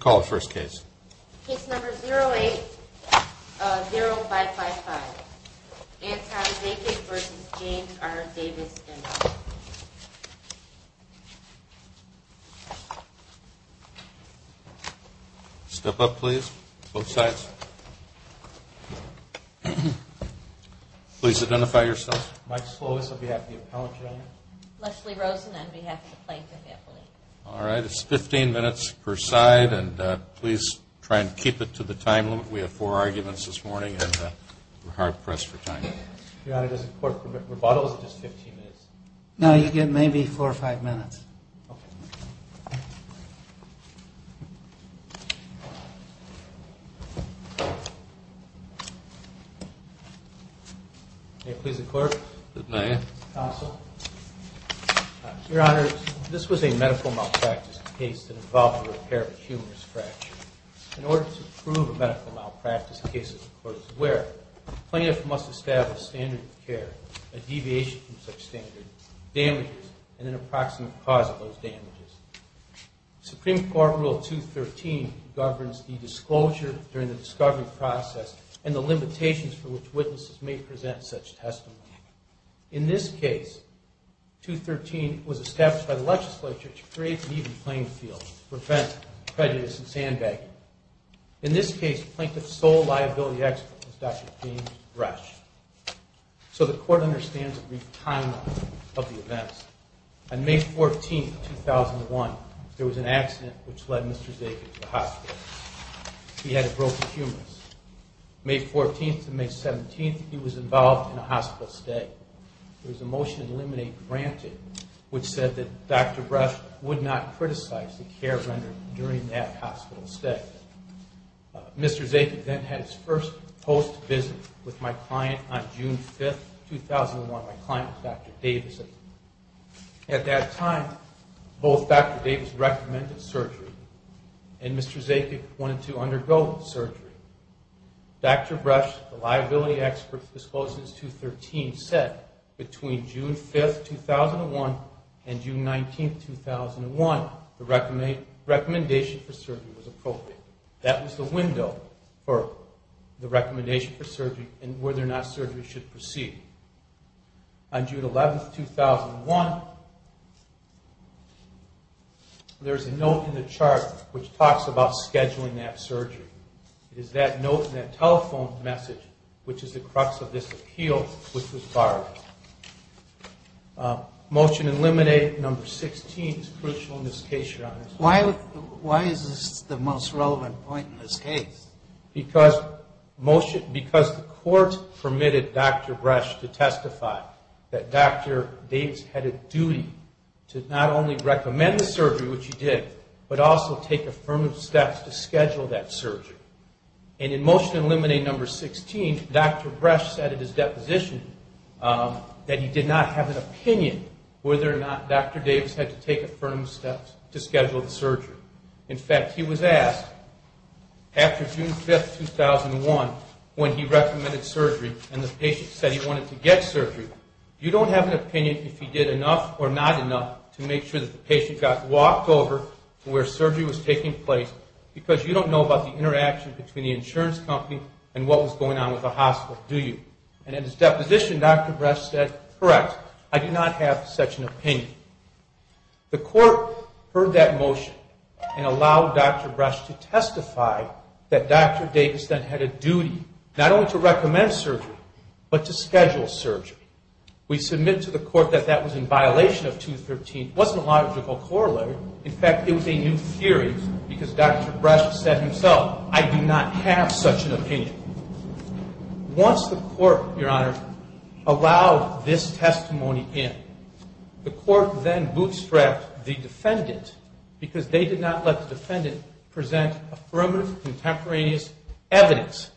Call the first case. Case number 080555, Anton Zaycic v. James R. Davis, M. Step up, please. Both sides. Please identify yourselves. Mike Slovis on behalf of the appellate jury. Leslie Rosen on behalf of the Plankton family. All right. It's 15 minutes per side, and please try and keep it to the time limit. We have four arguments this morning, and we're hard pressed for time. Your Honor, does the court permit rebuttal? Is it just 15 minutes? No, you get maybe four or five minutes. Okay. May it please the court? It may. Counsel? Your Honor, this was a medical malpractice case that involved a repair of a humerus fracture. In order to prove a medical malpractice case, the court is aware, the plaintiff must establish standard of care, a deviation from such standard, damages, and an approximate cause of those damages. Supreme Court Rule 213 governs the disclosure during the discovery process and the limitations for which witnesses may present such testimony. In this case, 213 was established by the legislature to create an even playing field to prevent prejudice and sandbagging. In this case, Plankton's sole liability expert was Dr. James Resch. So the court understands the brief timeline of the events. On May 14th, 2001, there was an accident which led Mr. Zakin to the hospital. He had a broken humerus. May 14th to May 17th, he was involved in a hospital stay. There was a motion to eliminate granted which said that Dr. Resch would not criticize the care rendered during that hospital stay. Mr. Zakin then had his first post-visit with my client on June 5th, 2001. My client was Dr. Davis. At that time, both Dr. Davis recommended surgery and Mr. Zakin wanted to undergo surgery. Dr. Resch, the liability expert who disclosed this in 213, said between June 5th, 2001 and June 19th, 2001, the recommendation for surgery was appropriate. That was the window for the recommendation for surgery and whether or not surgery should proceed. On June 11th, 2001, there is a note in the chart which talks about scheduling that surgery. It is that note and that telephone message which is the crux of this appeal which was borrowed. Motion to eliminate number 16 is crucial in this case, Your Honor. Why is this the most relevant point in this case? In fact, he was asked after June 5th, 2001 when he recommended surgery and the patient said he wanted to get surgery, you don't have an opinion if he did enough or not enough to make sure that the patient got walked over to where surgery was taking place because you don't know about the interaction between the insurance company and what was going on with the hospital, do you? And in his deposition, Dr. Resch said, correct, I do not have such an opinion. The court heard that motion and allowed Dr. Resch to testify that Dr. Davis then had a duty not only to recommend surgery but to schedule surgery. We submit to the court that that was in violation of 213. It wasn't a logical corollary. In fact, it was a new theory because Dr. Resch said himself, I do not have such an opinion. Once the court, Your Honor, allowed this testimony in, the court then bootstrapped the defendant because they did not let the defendant present affirmative contemporaneous evidence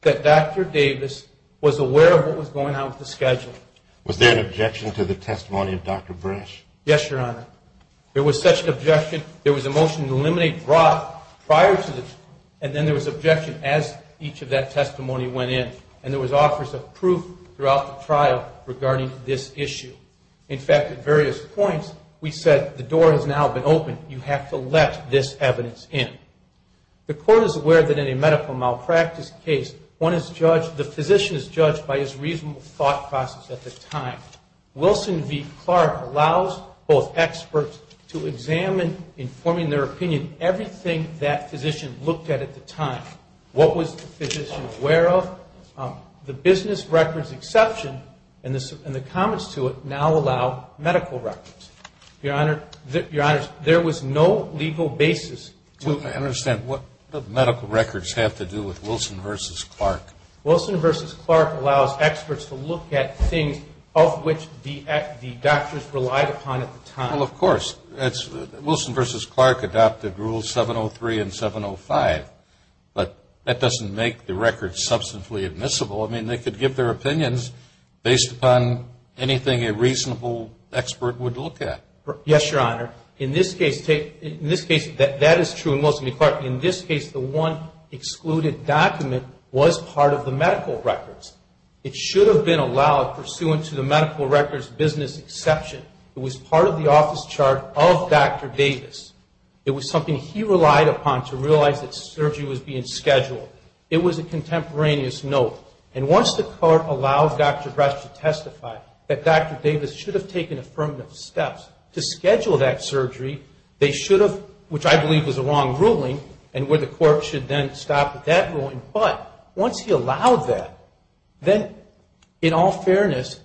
that Dr. Davis was aware of what was going on with the schedule. Was there an objection to the testimony of Dr. Resch? Yes, Your Honor. There was such an objection. There was a motion to eliminate Roth prior to this and then there was objection as each of that testimony went in and there was offers of proof throughout the trial regarding this issue. In fact, at various points, we said the door has now been opened. You have to let this evidence in. The court is aware that in a medical malpractice case, the physician is judged by his reasonable thought process at the time. Wilson v. Clark allows both experts to examine, informing their opinion, everything that physician looked at at the time. What was the physician aware of? The business records exception and the comments to it now allow medical records. Your Honor, there was no legal basis to it. I understand. What do medical records have to do with Wilson v. Clark? Wilson v. Clark allows experts to look at things of which the doctors relied upon at the time. Well, of course. Wilson v. Clark adopted rules 703 and 705, but that doesn't make the records substantially admissible. I mean, they could give their opinions based upon anything a reasonable expert would look at. Yes, Your Honor. In this case, that is true in Wilson v. Clark. In this case, the one excluded document was part of the medical records. It should have been allowed pursuant to the medical records business exception. It was part of the office chart of Dr. Davis. It was something he relied upon to realize that surgery was being scheduled. It was a contemporaneous note. And once the court allowed Dr. Brett to testify that Dr. Davis should have taken affirmative steps to schedule that surgery, they should have, which I believe was a wrong ruling and where the court should then stop at that ruling, but once he allowed that, then in all fairness,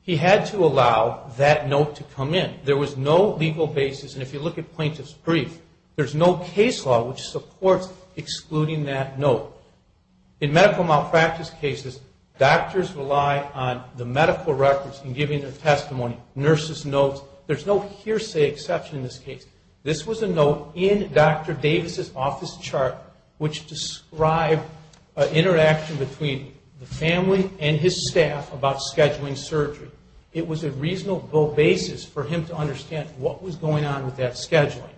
he had to allow that note to come in. There was no legal basis, and if you look at plaintiff's brief, there's no case law which supports excluding that note. In medical malpractice cases, doctors rely on the medical records in giving their testimony, nurses' notes. There's no hearsay exception in this case. This was a note in Dr. Davis' office chart which described an interaction between the family and his staff about scheduling surgery. It was a reasonable basis for him to understand what was going on with that scheduling.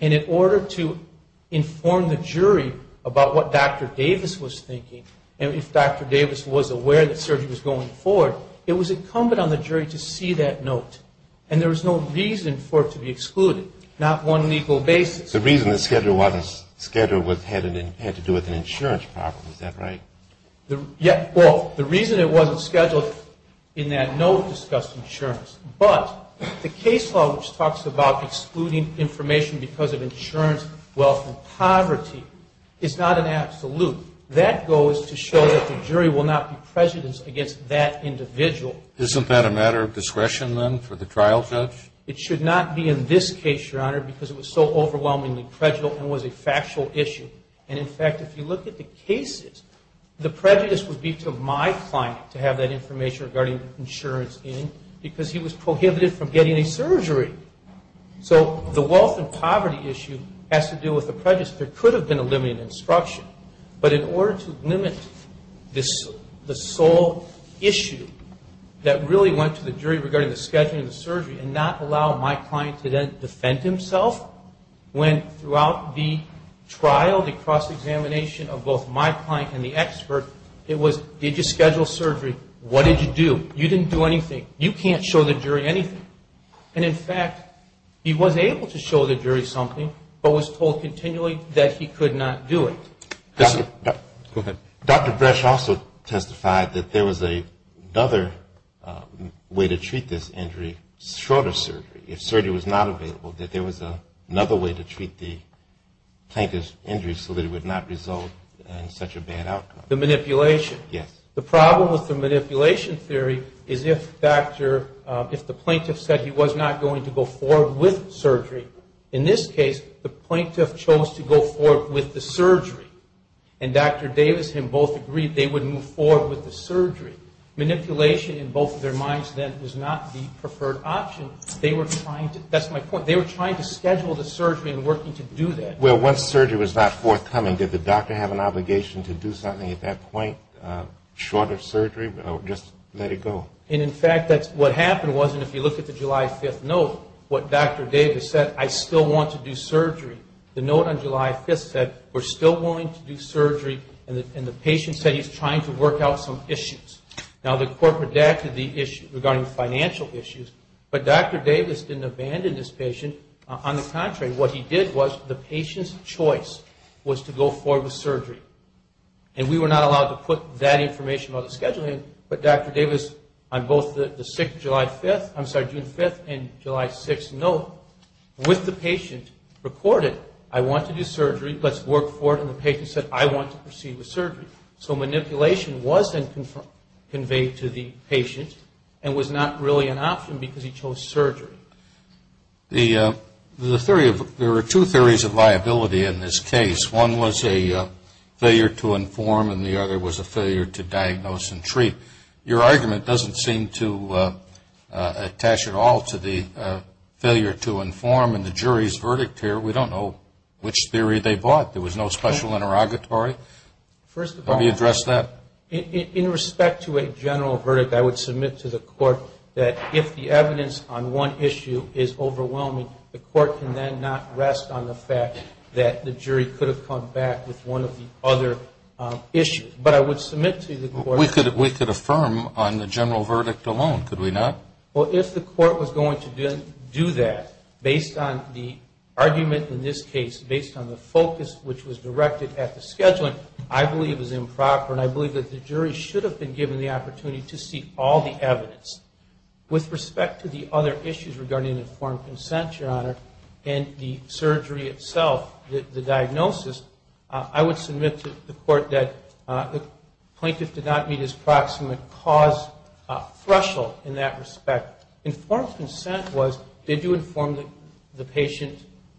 And in order to inform the jury about what Dr. Davis was thinking, and if Dr. Davis was aware that surgery was going forward, it was incumbent on the jury to see that note. And there was no reason for it to be excluded, not one legal basis. The reason the schedule wasn't scheduled had to do with an insurance problem, is that right? Well, the reason it wasn't scheduled in that note discussed insurance, but the case law which talks about excluding information because of insurance, wealth, and poverty is not an absolute. That goes to show that the jury will not be prejudiced against that individual. Isn't that a matter of discretion, then, for the trial judge? It should not be in this case, Your Honor, because it was so overwhelmingly prejudicial and was a factual issue. And in fact, if you look at the cases, the prejudice would be to my client to have that information regarding insurance in because he was prohibited from getting a surgery. So the wealth and poverty issue has to do with the prejudice. There could have been a limited instruction, but in order to limit the sole issue that really went to the jury regarding the scheduling of the surgery and not allow my client to then defend himself, when throughout the trial, the cross-examination of both my client and the expert, it was, did you schedule surgery, what did you do, you didn't do anything, you can't show the jury anything. And in fact, he was able to show the jury something, but was told continually that he could not do it. Go ahead. Dr. Bresch also testified that there was another way to treat this injury, shorter surgery. If surgery was not available, that there was another way to treat the plaintiff's injury so that it would not result in such a bad outcome. The manipulation. Yes. The problem with the manipulation theory is if doctor, if the plaintiff said he was not going to go forward with surgery, in this case, the plaintiff chose to go forward with the surgery. And Dr. Davis and both agreed they would move forward with the surgery. Manipulation in both their minds then was not the preferred option. They were trying to, that's my point, they were trying to schedule the surgery and working to do that. Well, once surgery was not forthcoming, did the doctor have an obligation to do something at that point, shorter surgery, or just let it go? And in fact, what happened was, and if you look at the July 5th note, what Dr. Davis said, I still want to do surgery. The note on July 5th said, we're still willing to do surgery, and the patient said he's trying to work out some issues. Now, the court redacted the issue regarding financial issues, but Dr. Davis didn't abandon this patient. On the contrary, what he did was, the patient's choice was to go forward with surgery. And we were not allowed to put that information on the scheduling, but Dr. Davis, on both the June 5th and July 6th notes, with the patient, reported, I want to do surgery, let's work for it, and the patient said, I want to proceed with surgery. So manipulation was then conveyed to the patient, and was not really an option because he chose surgery. The theory of, there are two theories of liability in this case. One was a failure to inform, and the other was a failure to diagnose and treat. Your argument doesn't seem to attach at all to the failure to inform and the jury's verdict here. We don't know which theory they bought. There was no special interrogatory. First of all, in respect to a general verdict, I would submit to the court that if the evidence on one issue is overwhelming, the court can then not rest on the fact that the jury could have come back with one of the other issues. But I would submit to the court. We could affirm on the general verdict alone, could we not? Well, if the court was going to do that, based on the argument in this case, based on the focus which was directed at the scheduling, I believe is improper, and I believe that the jury should have been given the opportunity to see all the evidence. With respect to the other issues regarding informed consent, Your Honor, and the surgery itself, the diagnosis, I would submit to the court that the plaintiff did not meet his proximate cause threshold in that respect. Informed consent was, did you inform the patient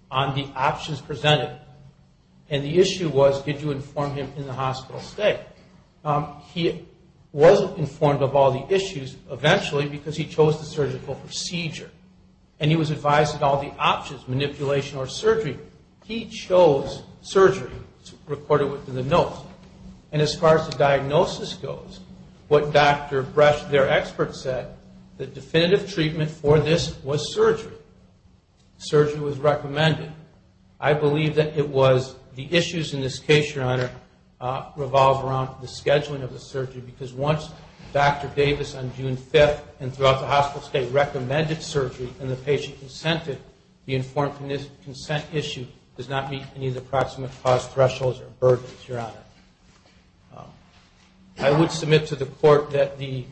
on the options presented? And the issue was, did you inform him in the hospital stay? He wasn't informed of all the issues, eventually, because he chose the surgical procedure. And he was advised of all the options, manipulation or surgery. He chose surgery, recorded within the note. And as far as the diagnosis goes, what Dr. Bresch, their expert, said, the definitive treatment for this was surgery. Surgery was recommended. I believe that it was the issues in this case, Your Honor, revolve around the scheduling of the surgery, because once Dr. Davis on June 5th and throughout the hospital stay recommended surgery and the patient consented, the informed consent issue does not meet any of the proximate cause thresholds or burdens, Your Honor. I would submit to the court that the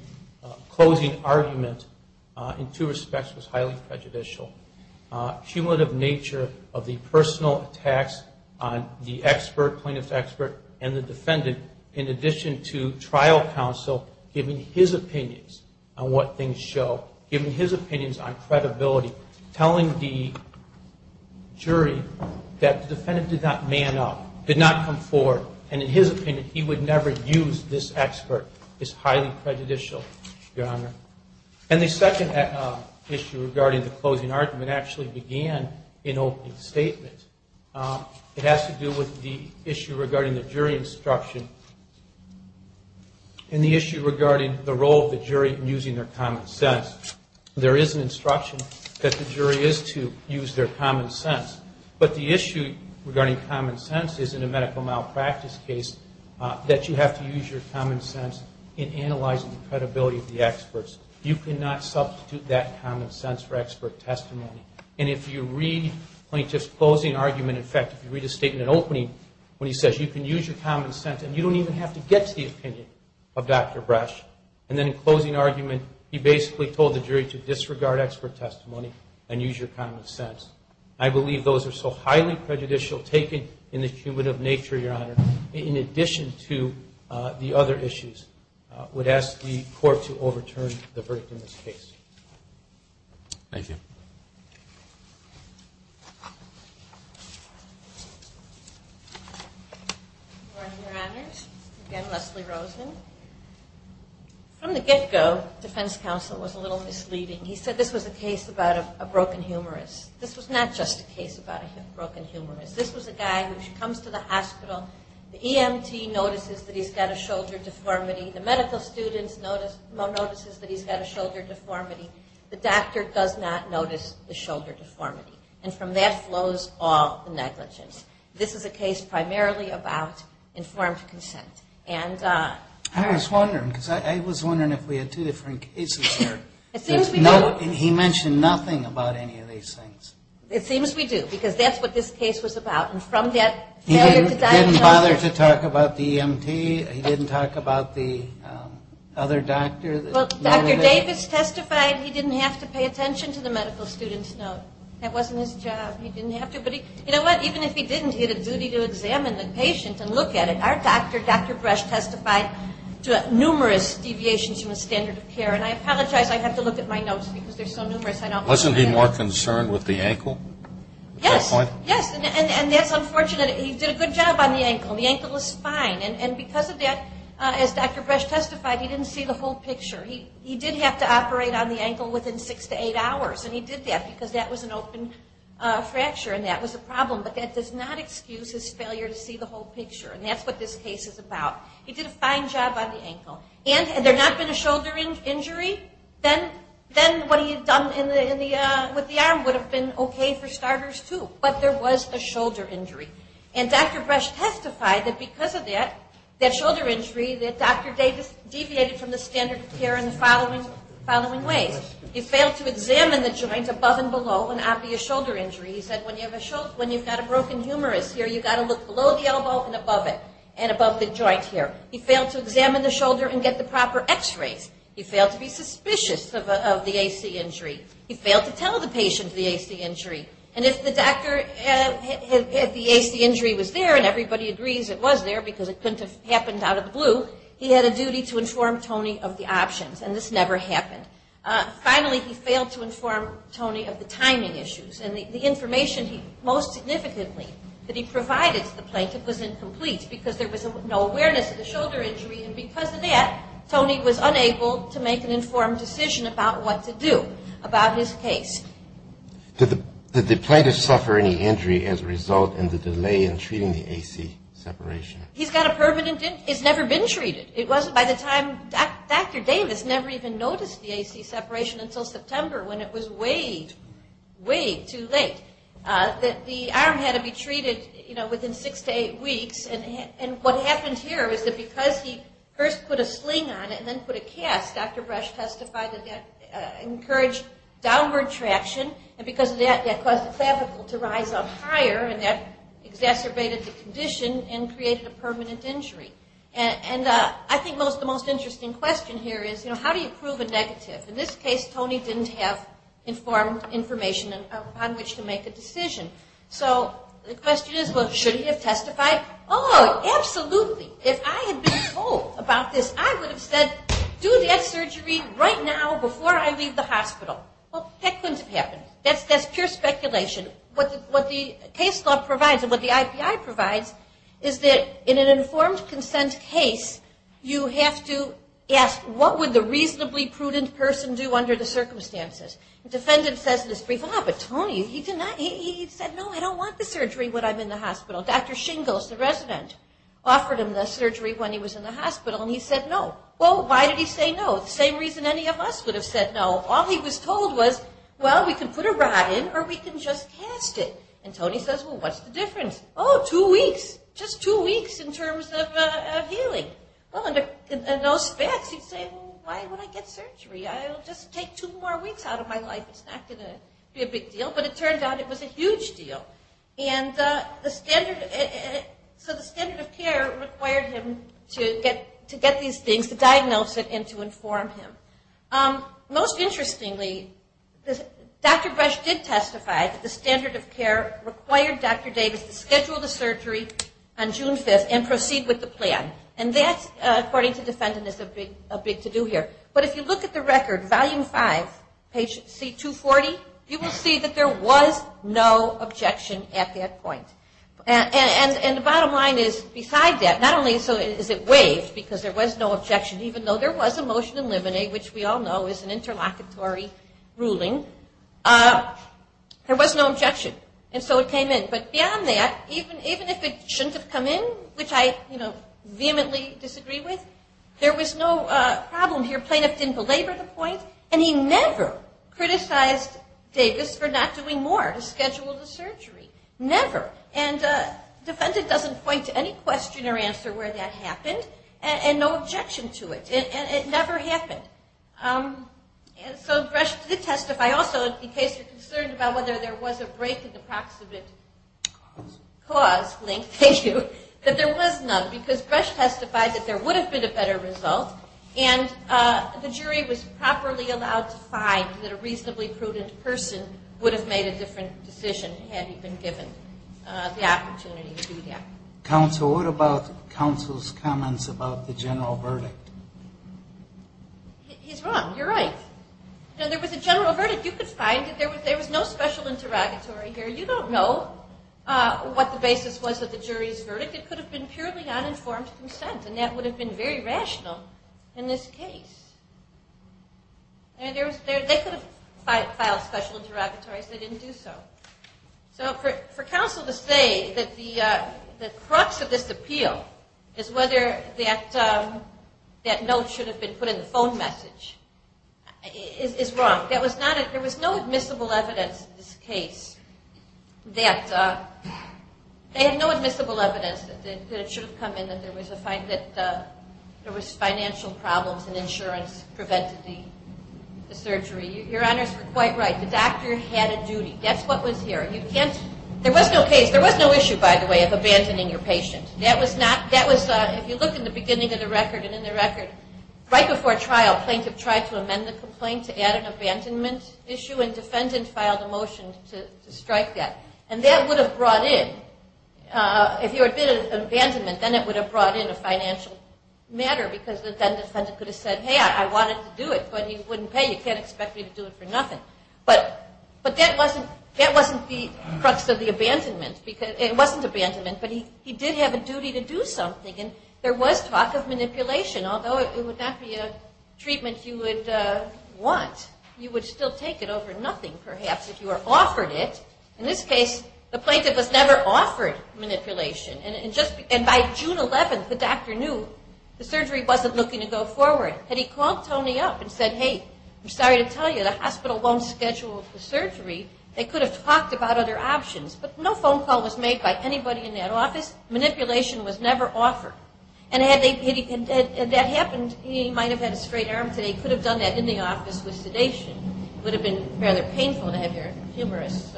closing argument, in two respects, was highly prejudicial. Cumulative nature of the personal attacks on the expert, plaintiff's expert, and the defendant, in addition to trial counsel giving his opinions on what things show, giving his opinions on credibility, telling the jury that the defendant did not man up, did not come forward, and in his opinion he would never use this expert is highly prejudicial, Your Honor. And the second issue regarding the closing argument actually began in opening statements. It has to do with the issue regarding the jury instruction and the issue regarding the role of the jury in using their common sense. There is an instruction that the jury is to use their common sense, but the issue regarding common sense is in a medical malpractice case that you have to use your common sense in analyzing the credibility of the experts. You cannot substitute that common sense for expert testimony. And if you read plaintiff's closing argument, in fact, if you read his statement in opening, when he says you can use your common sense and you don't even have to get to the opinion of Dr. Bresch, and then in closing argument, he basically told the jury to disregard expert testimony and use your common sense. I believe those are so highly prejudicial taken in the cumulative nature, Your Honor, in addition to the other issues, would ask the court to overturn the verdict in this case. Thank you. Good morning, Your Honors. Again, Leslie Rosen. From the get-go, defense counsel was a little misleading. He said this was a case about a broken humorist. This was not just a case about a broken humorist. This was a guy who comes to the hospital. The EMT notices that he's got a shoulder deformity. The medical student notices that he's got a shoulder deformity. The doctor does not notice the shoulder deformity. And from that flows all the negligence. This is a case primarily about informed consent. I was wondering, because I was wondering if we had two different cases here. He mentioned nothing about any of these things. It seems we do, because that's what this case was about. He didn't bother to talk about the EMT. He didn't talk about the other doctor. Well, Dr. Davis testified he didn't have to pay attention to the medical student's note. That wasn't his job. He didn't have to. But you know what? Even if he didn't, he had a duty to examine the patient and look at it. Our doctor, Dr. Brush, testified to numerous deviations from the standard of care. And I apologize. I have to look at my notes because they're so numerous. Wasn't he more concerned with the ankle at that point? Yes. Yes. And that's unfortunate. He did a good job on the ankle. The ankle is fine. And because of that, as Dr. Brush testified, he didn't see the whole picture. He did have to operate on the ankle within six to eight hours. And he did that because that was an open fracture and that was a problem. But that does not excuse his failure to see the whole picture. And that's what this case is about. He did a fine job on the ankle. And had there not been a shoulder injury, then what he had done with the arm would have been okay for starters, too. But there was a shoulder injury. And Dr. Brush testified that because of that, that shoulder injury, that Dr. Davis deviated from the standard of care in the following ways. He failed to examine the joint above and below an obvious shoulder injury. He said when you've got a broken humerus here, you've got to look below the elbow and above it and above the joint here. He failed to examine the shoulder and get the proper x-rays. He failed to be suspicious of the AC injury. He failed to tell the patient the AC injury. And if the AC injury was there and everybody agrees it was there because it couldn't have happened out of the blue, he had a duty to inform Tony of the options. And this never happened. Finally, he failed to inform Tony of the timing issues. And the information he most significantly that he provided to the plaintiff was incomplete because there was no awareness of the shoulder injury. And because of that, Tony was unable to make an informed decision about what to do about his case. Did the plaintiff suffer any injury as a result in the delay in treating the AC separation? He's got a permanent injury. It's never been treated. It wasn't by the time Dr. Davis never even noticed the AC separation until September when it was way, way too late. The arm had to be treated, you know, within six to eight weeks. And what happened here is that because he first put a sling on it and then put a cast, Dr. Brush testified that that encouraged downward traction. And because of that, that caused the clavicle to rise up higher and that exacerbated the condition and created a permanent injury. And I think the most interesting question here is, you know, how do you prove a negative? In this case, Tony didn't have informed information on which to make a decision. So the question is, well, should he have testified? Oh, absolutely. If I had been told about this, I would have said, do that surgery right now before I leave the hospital. Well, that couldn't have happened. That's pure speculation. What the case law provides and what the IPI provides is that in an informed consent case, you have to ask what would the reasonably prudent person do under the circumstances. Defendant says in his brief, ah, but Tony, he said, no, I don't want the surgery when I'm in the hospital. Dr. Shingles, the resident, offered him the surgery when he was in the hospital and he said no. Well, why did he say no? The same reason any of us would have said no. All he was told was, well, we can put a rod in or we can just cast it. And Tony says, well, what's the difference? Oh, two weeks. Just two weeks in terms of healing. Well, in those facts, you'd say, well, why would I get surgery? I'll just take two more weeks out of my life. It's not going to be a big deal. But it turned out it was a huge deal. And the standard, so the standard of care required him to get these things, to diagnose it and to inform him. Most interestingly, Dr. Brush did testify that the standard of care required Dr. Davis to schedule the surgery on June 5th and proceed with the plan. And that, according to defendants, is a big to-do here. But if you look at the record, Volume 5, page C240, you will see that there was no objection at that point. And the bottom line is, beside that, not only is it waived because there was no objection, even though there was a motion to eliminate, which we all know is an interlocutory ruling, there was no objection. And so it came in. But beyond that, even if it shouldn't have come in, which I vehemently disagree with, there was no problem here. Plaintiff didn't belabor the point. And he never criticized Davis for not doing more to schedule the surgery. Never. And defendant doesn't point to any question or answer where that happened and no objection to it. And it never happened. And so Bresch did testify also, in case you're concerned about whether there was a break in the proximate cause, Link, thank you, that there was none because Bresch testified that there would have been a better result and the jury was properly allowed to find that a reasonably prudent person would have made a different decision had he been given the opportunity to do that. Counsel, what about counsel's comments about the general verdict? He's wrong. You're right. There was a general verdict. You could find that there was no special interrogatory here. You don't know what the basis was of the jury's verdict. It could have been purely uninformed consent, and that would have been very rational in this case. They could have filed special interrogatories. They didn't do so. So for counsel to say that the crux of this appeal is whether that note should have been put in the phone message is wrong. There was no admissible evidence in this case that they had no admissible evidence that it should have come in that there was financial problems and insurance prevented the surgery. Your honors were quite right. The doctor had a duty. That's what was here. There was no issue, by the way, of abandoning your patient. If you look in the beginning of the record and in the record, right before trial, plaintiff tried to amend the complaint to add an abandonment issue, and defendant filed a motion to strike that. And that would have brought in, if there had been an abandonment, then it would have brought in a financial matter because then defendant could have said, hey, I wanted to do it, but you wouldn't pay. You can't expect me to do it for nothing. But that wasn't the crux of the abandonment. It wasn't abandonment, but he did have a duty to do something. And there was talk of manipulation, although it would not be a treatment you would want. You would still take it over nothing, perhaps, if you were offered it. In this case, the plaintiff was never offered manipulation. And by June 11th, the doctor knew the surgery wasn't looking to go forward. Had he called Tony up and said, hey, I'm sorry to tell you, the hospital won't schedule the surgery, they could have talked about other options. But no phone call was made by anybody in that office. Manipulation was never offered. And had that happened, he might have had a straight arm today. He could have done that in the office with sedation. It would have been rather painful to have your humerus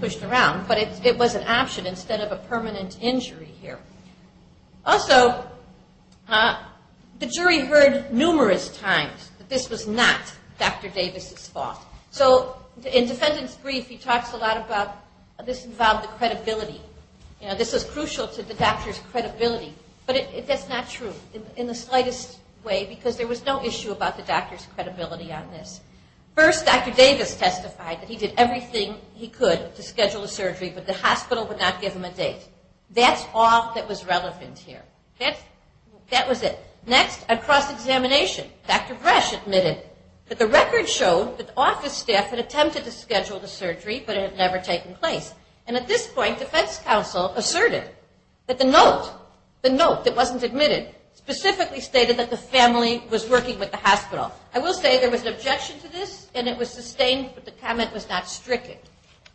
pushed around. But it was an option instead of a permanent injury here. Also, the jury heard numerous times that this was not Dr. Davis' fault. So in defendant's brief, he talks a lot about this involved the credibility. This was crucial to the doctor's credibility. But that's not true in the slightest way, because there was no issue about the doctor's credibility on this. First, Dr. Davis testified that he did everything he could to schedule a surgery, but the hospital would not give him a date. That's all that was relevant here. That was it. Next, a cross-examination. Dr. Bresch admitted that the record showed that the office staff had attempted to schedule the surgery, but it had never taken place. And at this point, defense counsel asserted that the note, the note that wasn't admitted, specifically stated that the family was working with the hospital. I will say there was an objection to this, and it was sustained, but the comment was not stricken.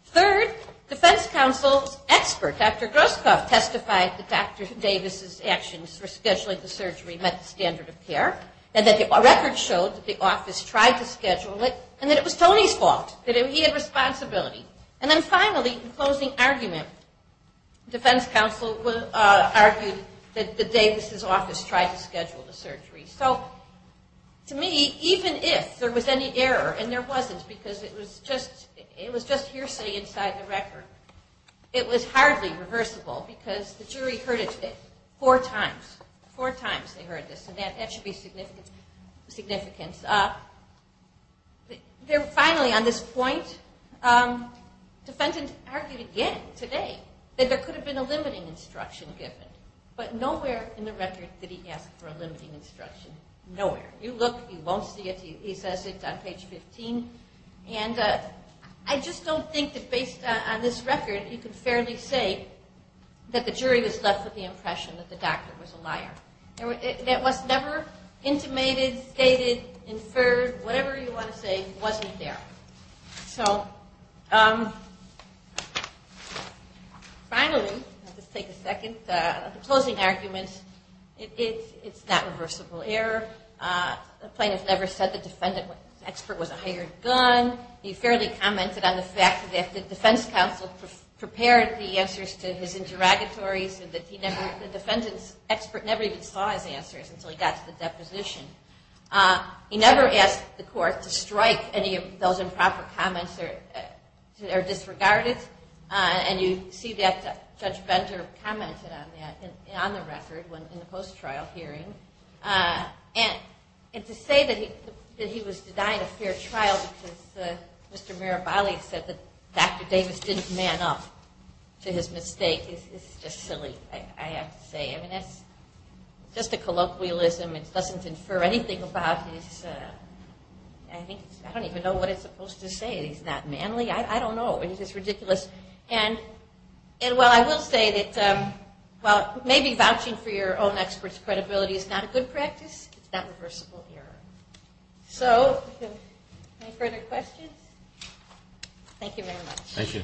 Third, defense counsel's expert, Dr. Groskopf, testified that Dr. Davis' actions for scheduling the surgery met the standard of care, and that the record showed that the office tried to schedule it, and that it was Tony's fault, that he had responsibility. And then finally, in closing argument, defense counsel argued that Davis' office tried to schedule the surgery. So to me, even if there was any error, and there wasn't because it was just hearsay inside the record, it was hardly reversible because the jury heard it four times. Four times they heard this, and that should be significant. Finally, on this point, defendants argued again today that there could have been a limiting instruction given, but nowhere in the record did he ask for a limiting instruction. Nowhere. You look, you won't see it. He says it on page 15. And I just don't think that based on this record, you can fairly say that the jury was left with the impression that the doctor was a liar. It was never intimated, stated, inferred. Whatever you want to say wasn't there. So finally, let's take a second. The closing argument, it's not reversible error. The plaintiff never said the defendant expert was a hired gun. He fairly commented on the fact that the defense counsel prepared the answers to his interrogatories and that the defendant's expert never even saw his answers until he got to the deposition. He never asked the court to strike any of those improper comments that are disregarded. And you see that Judge Bender commented on that on the record in the post-trial hearing. And to say that he was denied a fair trial because Mr. Mirabali said that Dr. Davis didn't man up to his mistake is just silly, I have to say. I mean, that's just a colloquialism. It doesn't infer anything about his, I don't even know what it's supposed to say. He's not manly? I don't know. It's just ridiculous. And while I will say that maybe vouching for your own expert's credibility is not a good practice, it's not reversible error. So any further questions? Thank you very much. Thank you.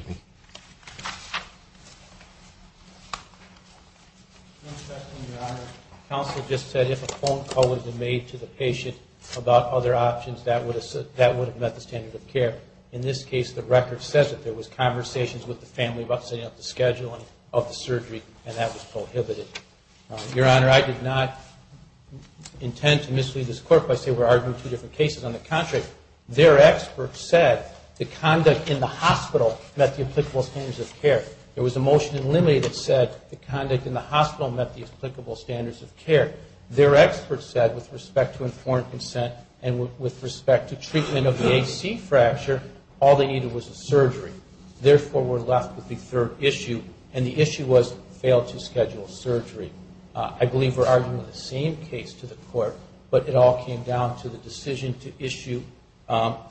One question, Your Honor. Counsel just said if a phone call was made to the patient about other options, that would have met the standard of care. In this case, the record says that there was conversations with the family about setting up the schedule of the surgery, and that was prohibited. Your Honor, I did not intend to mislead this Court by saying we're arguing two different cases. On the contrary, their expert said the conduct in the hospital met the applicable standards of care. There was a motion in limine that said the conduct in the hospital met the applicable standards of care. Their expert said with respect to informed consent and with respect to treatment of the AC fracture, all they needed was a surgery. Therefore, we're left with the third issue, and the issue was fail to schedule surgery. I believe we're arguing the same case to the Court, but it all came down to the decision to issue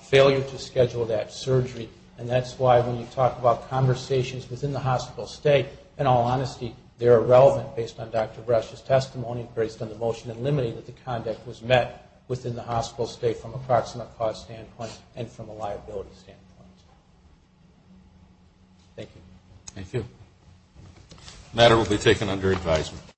failure to schedule that surgery, and that's why when you talk about conversations within the hospital state, in all honesty, they're irrelevant based on Dr. Brush's testimony and based on the motion in limine that the conduct was met within the hospital state from a proximate cause standpoint and from a liability standpoint. Thank you. Thank you. The matter will be taken under advisement.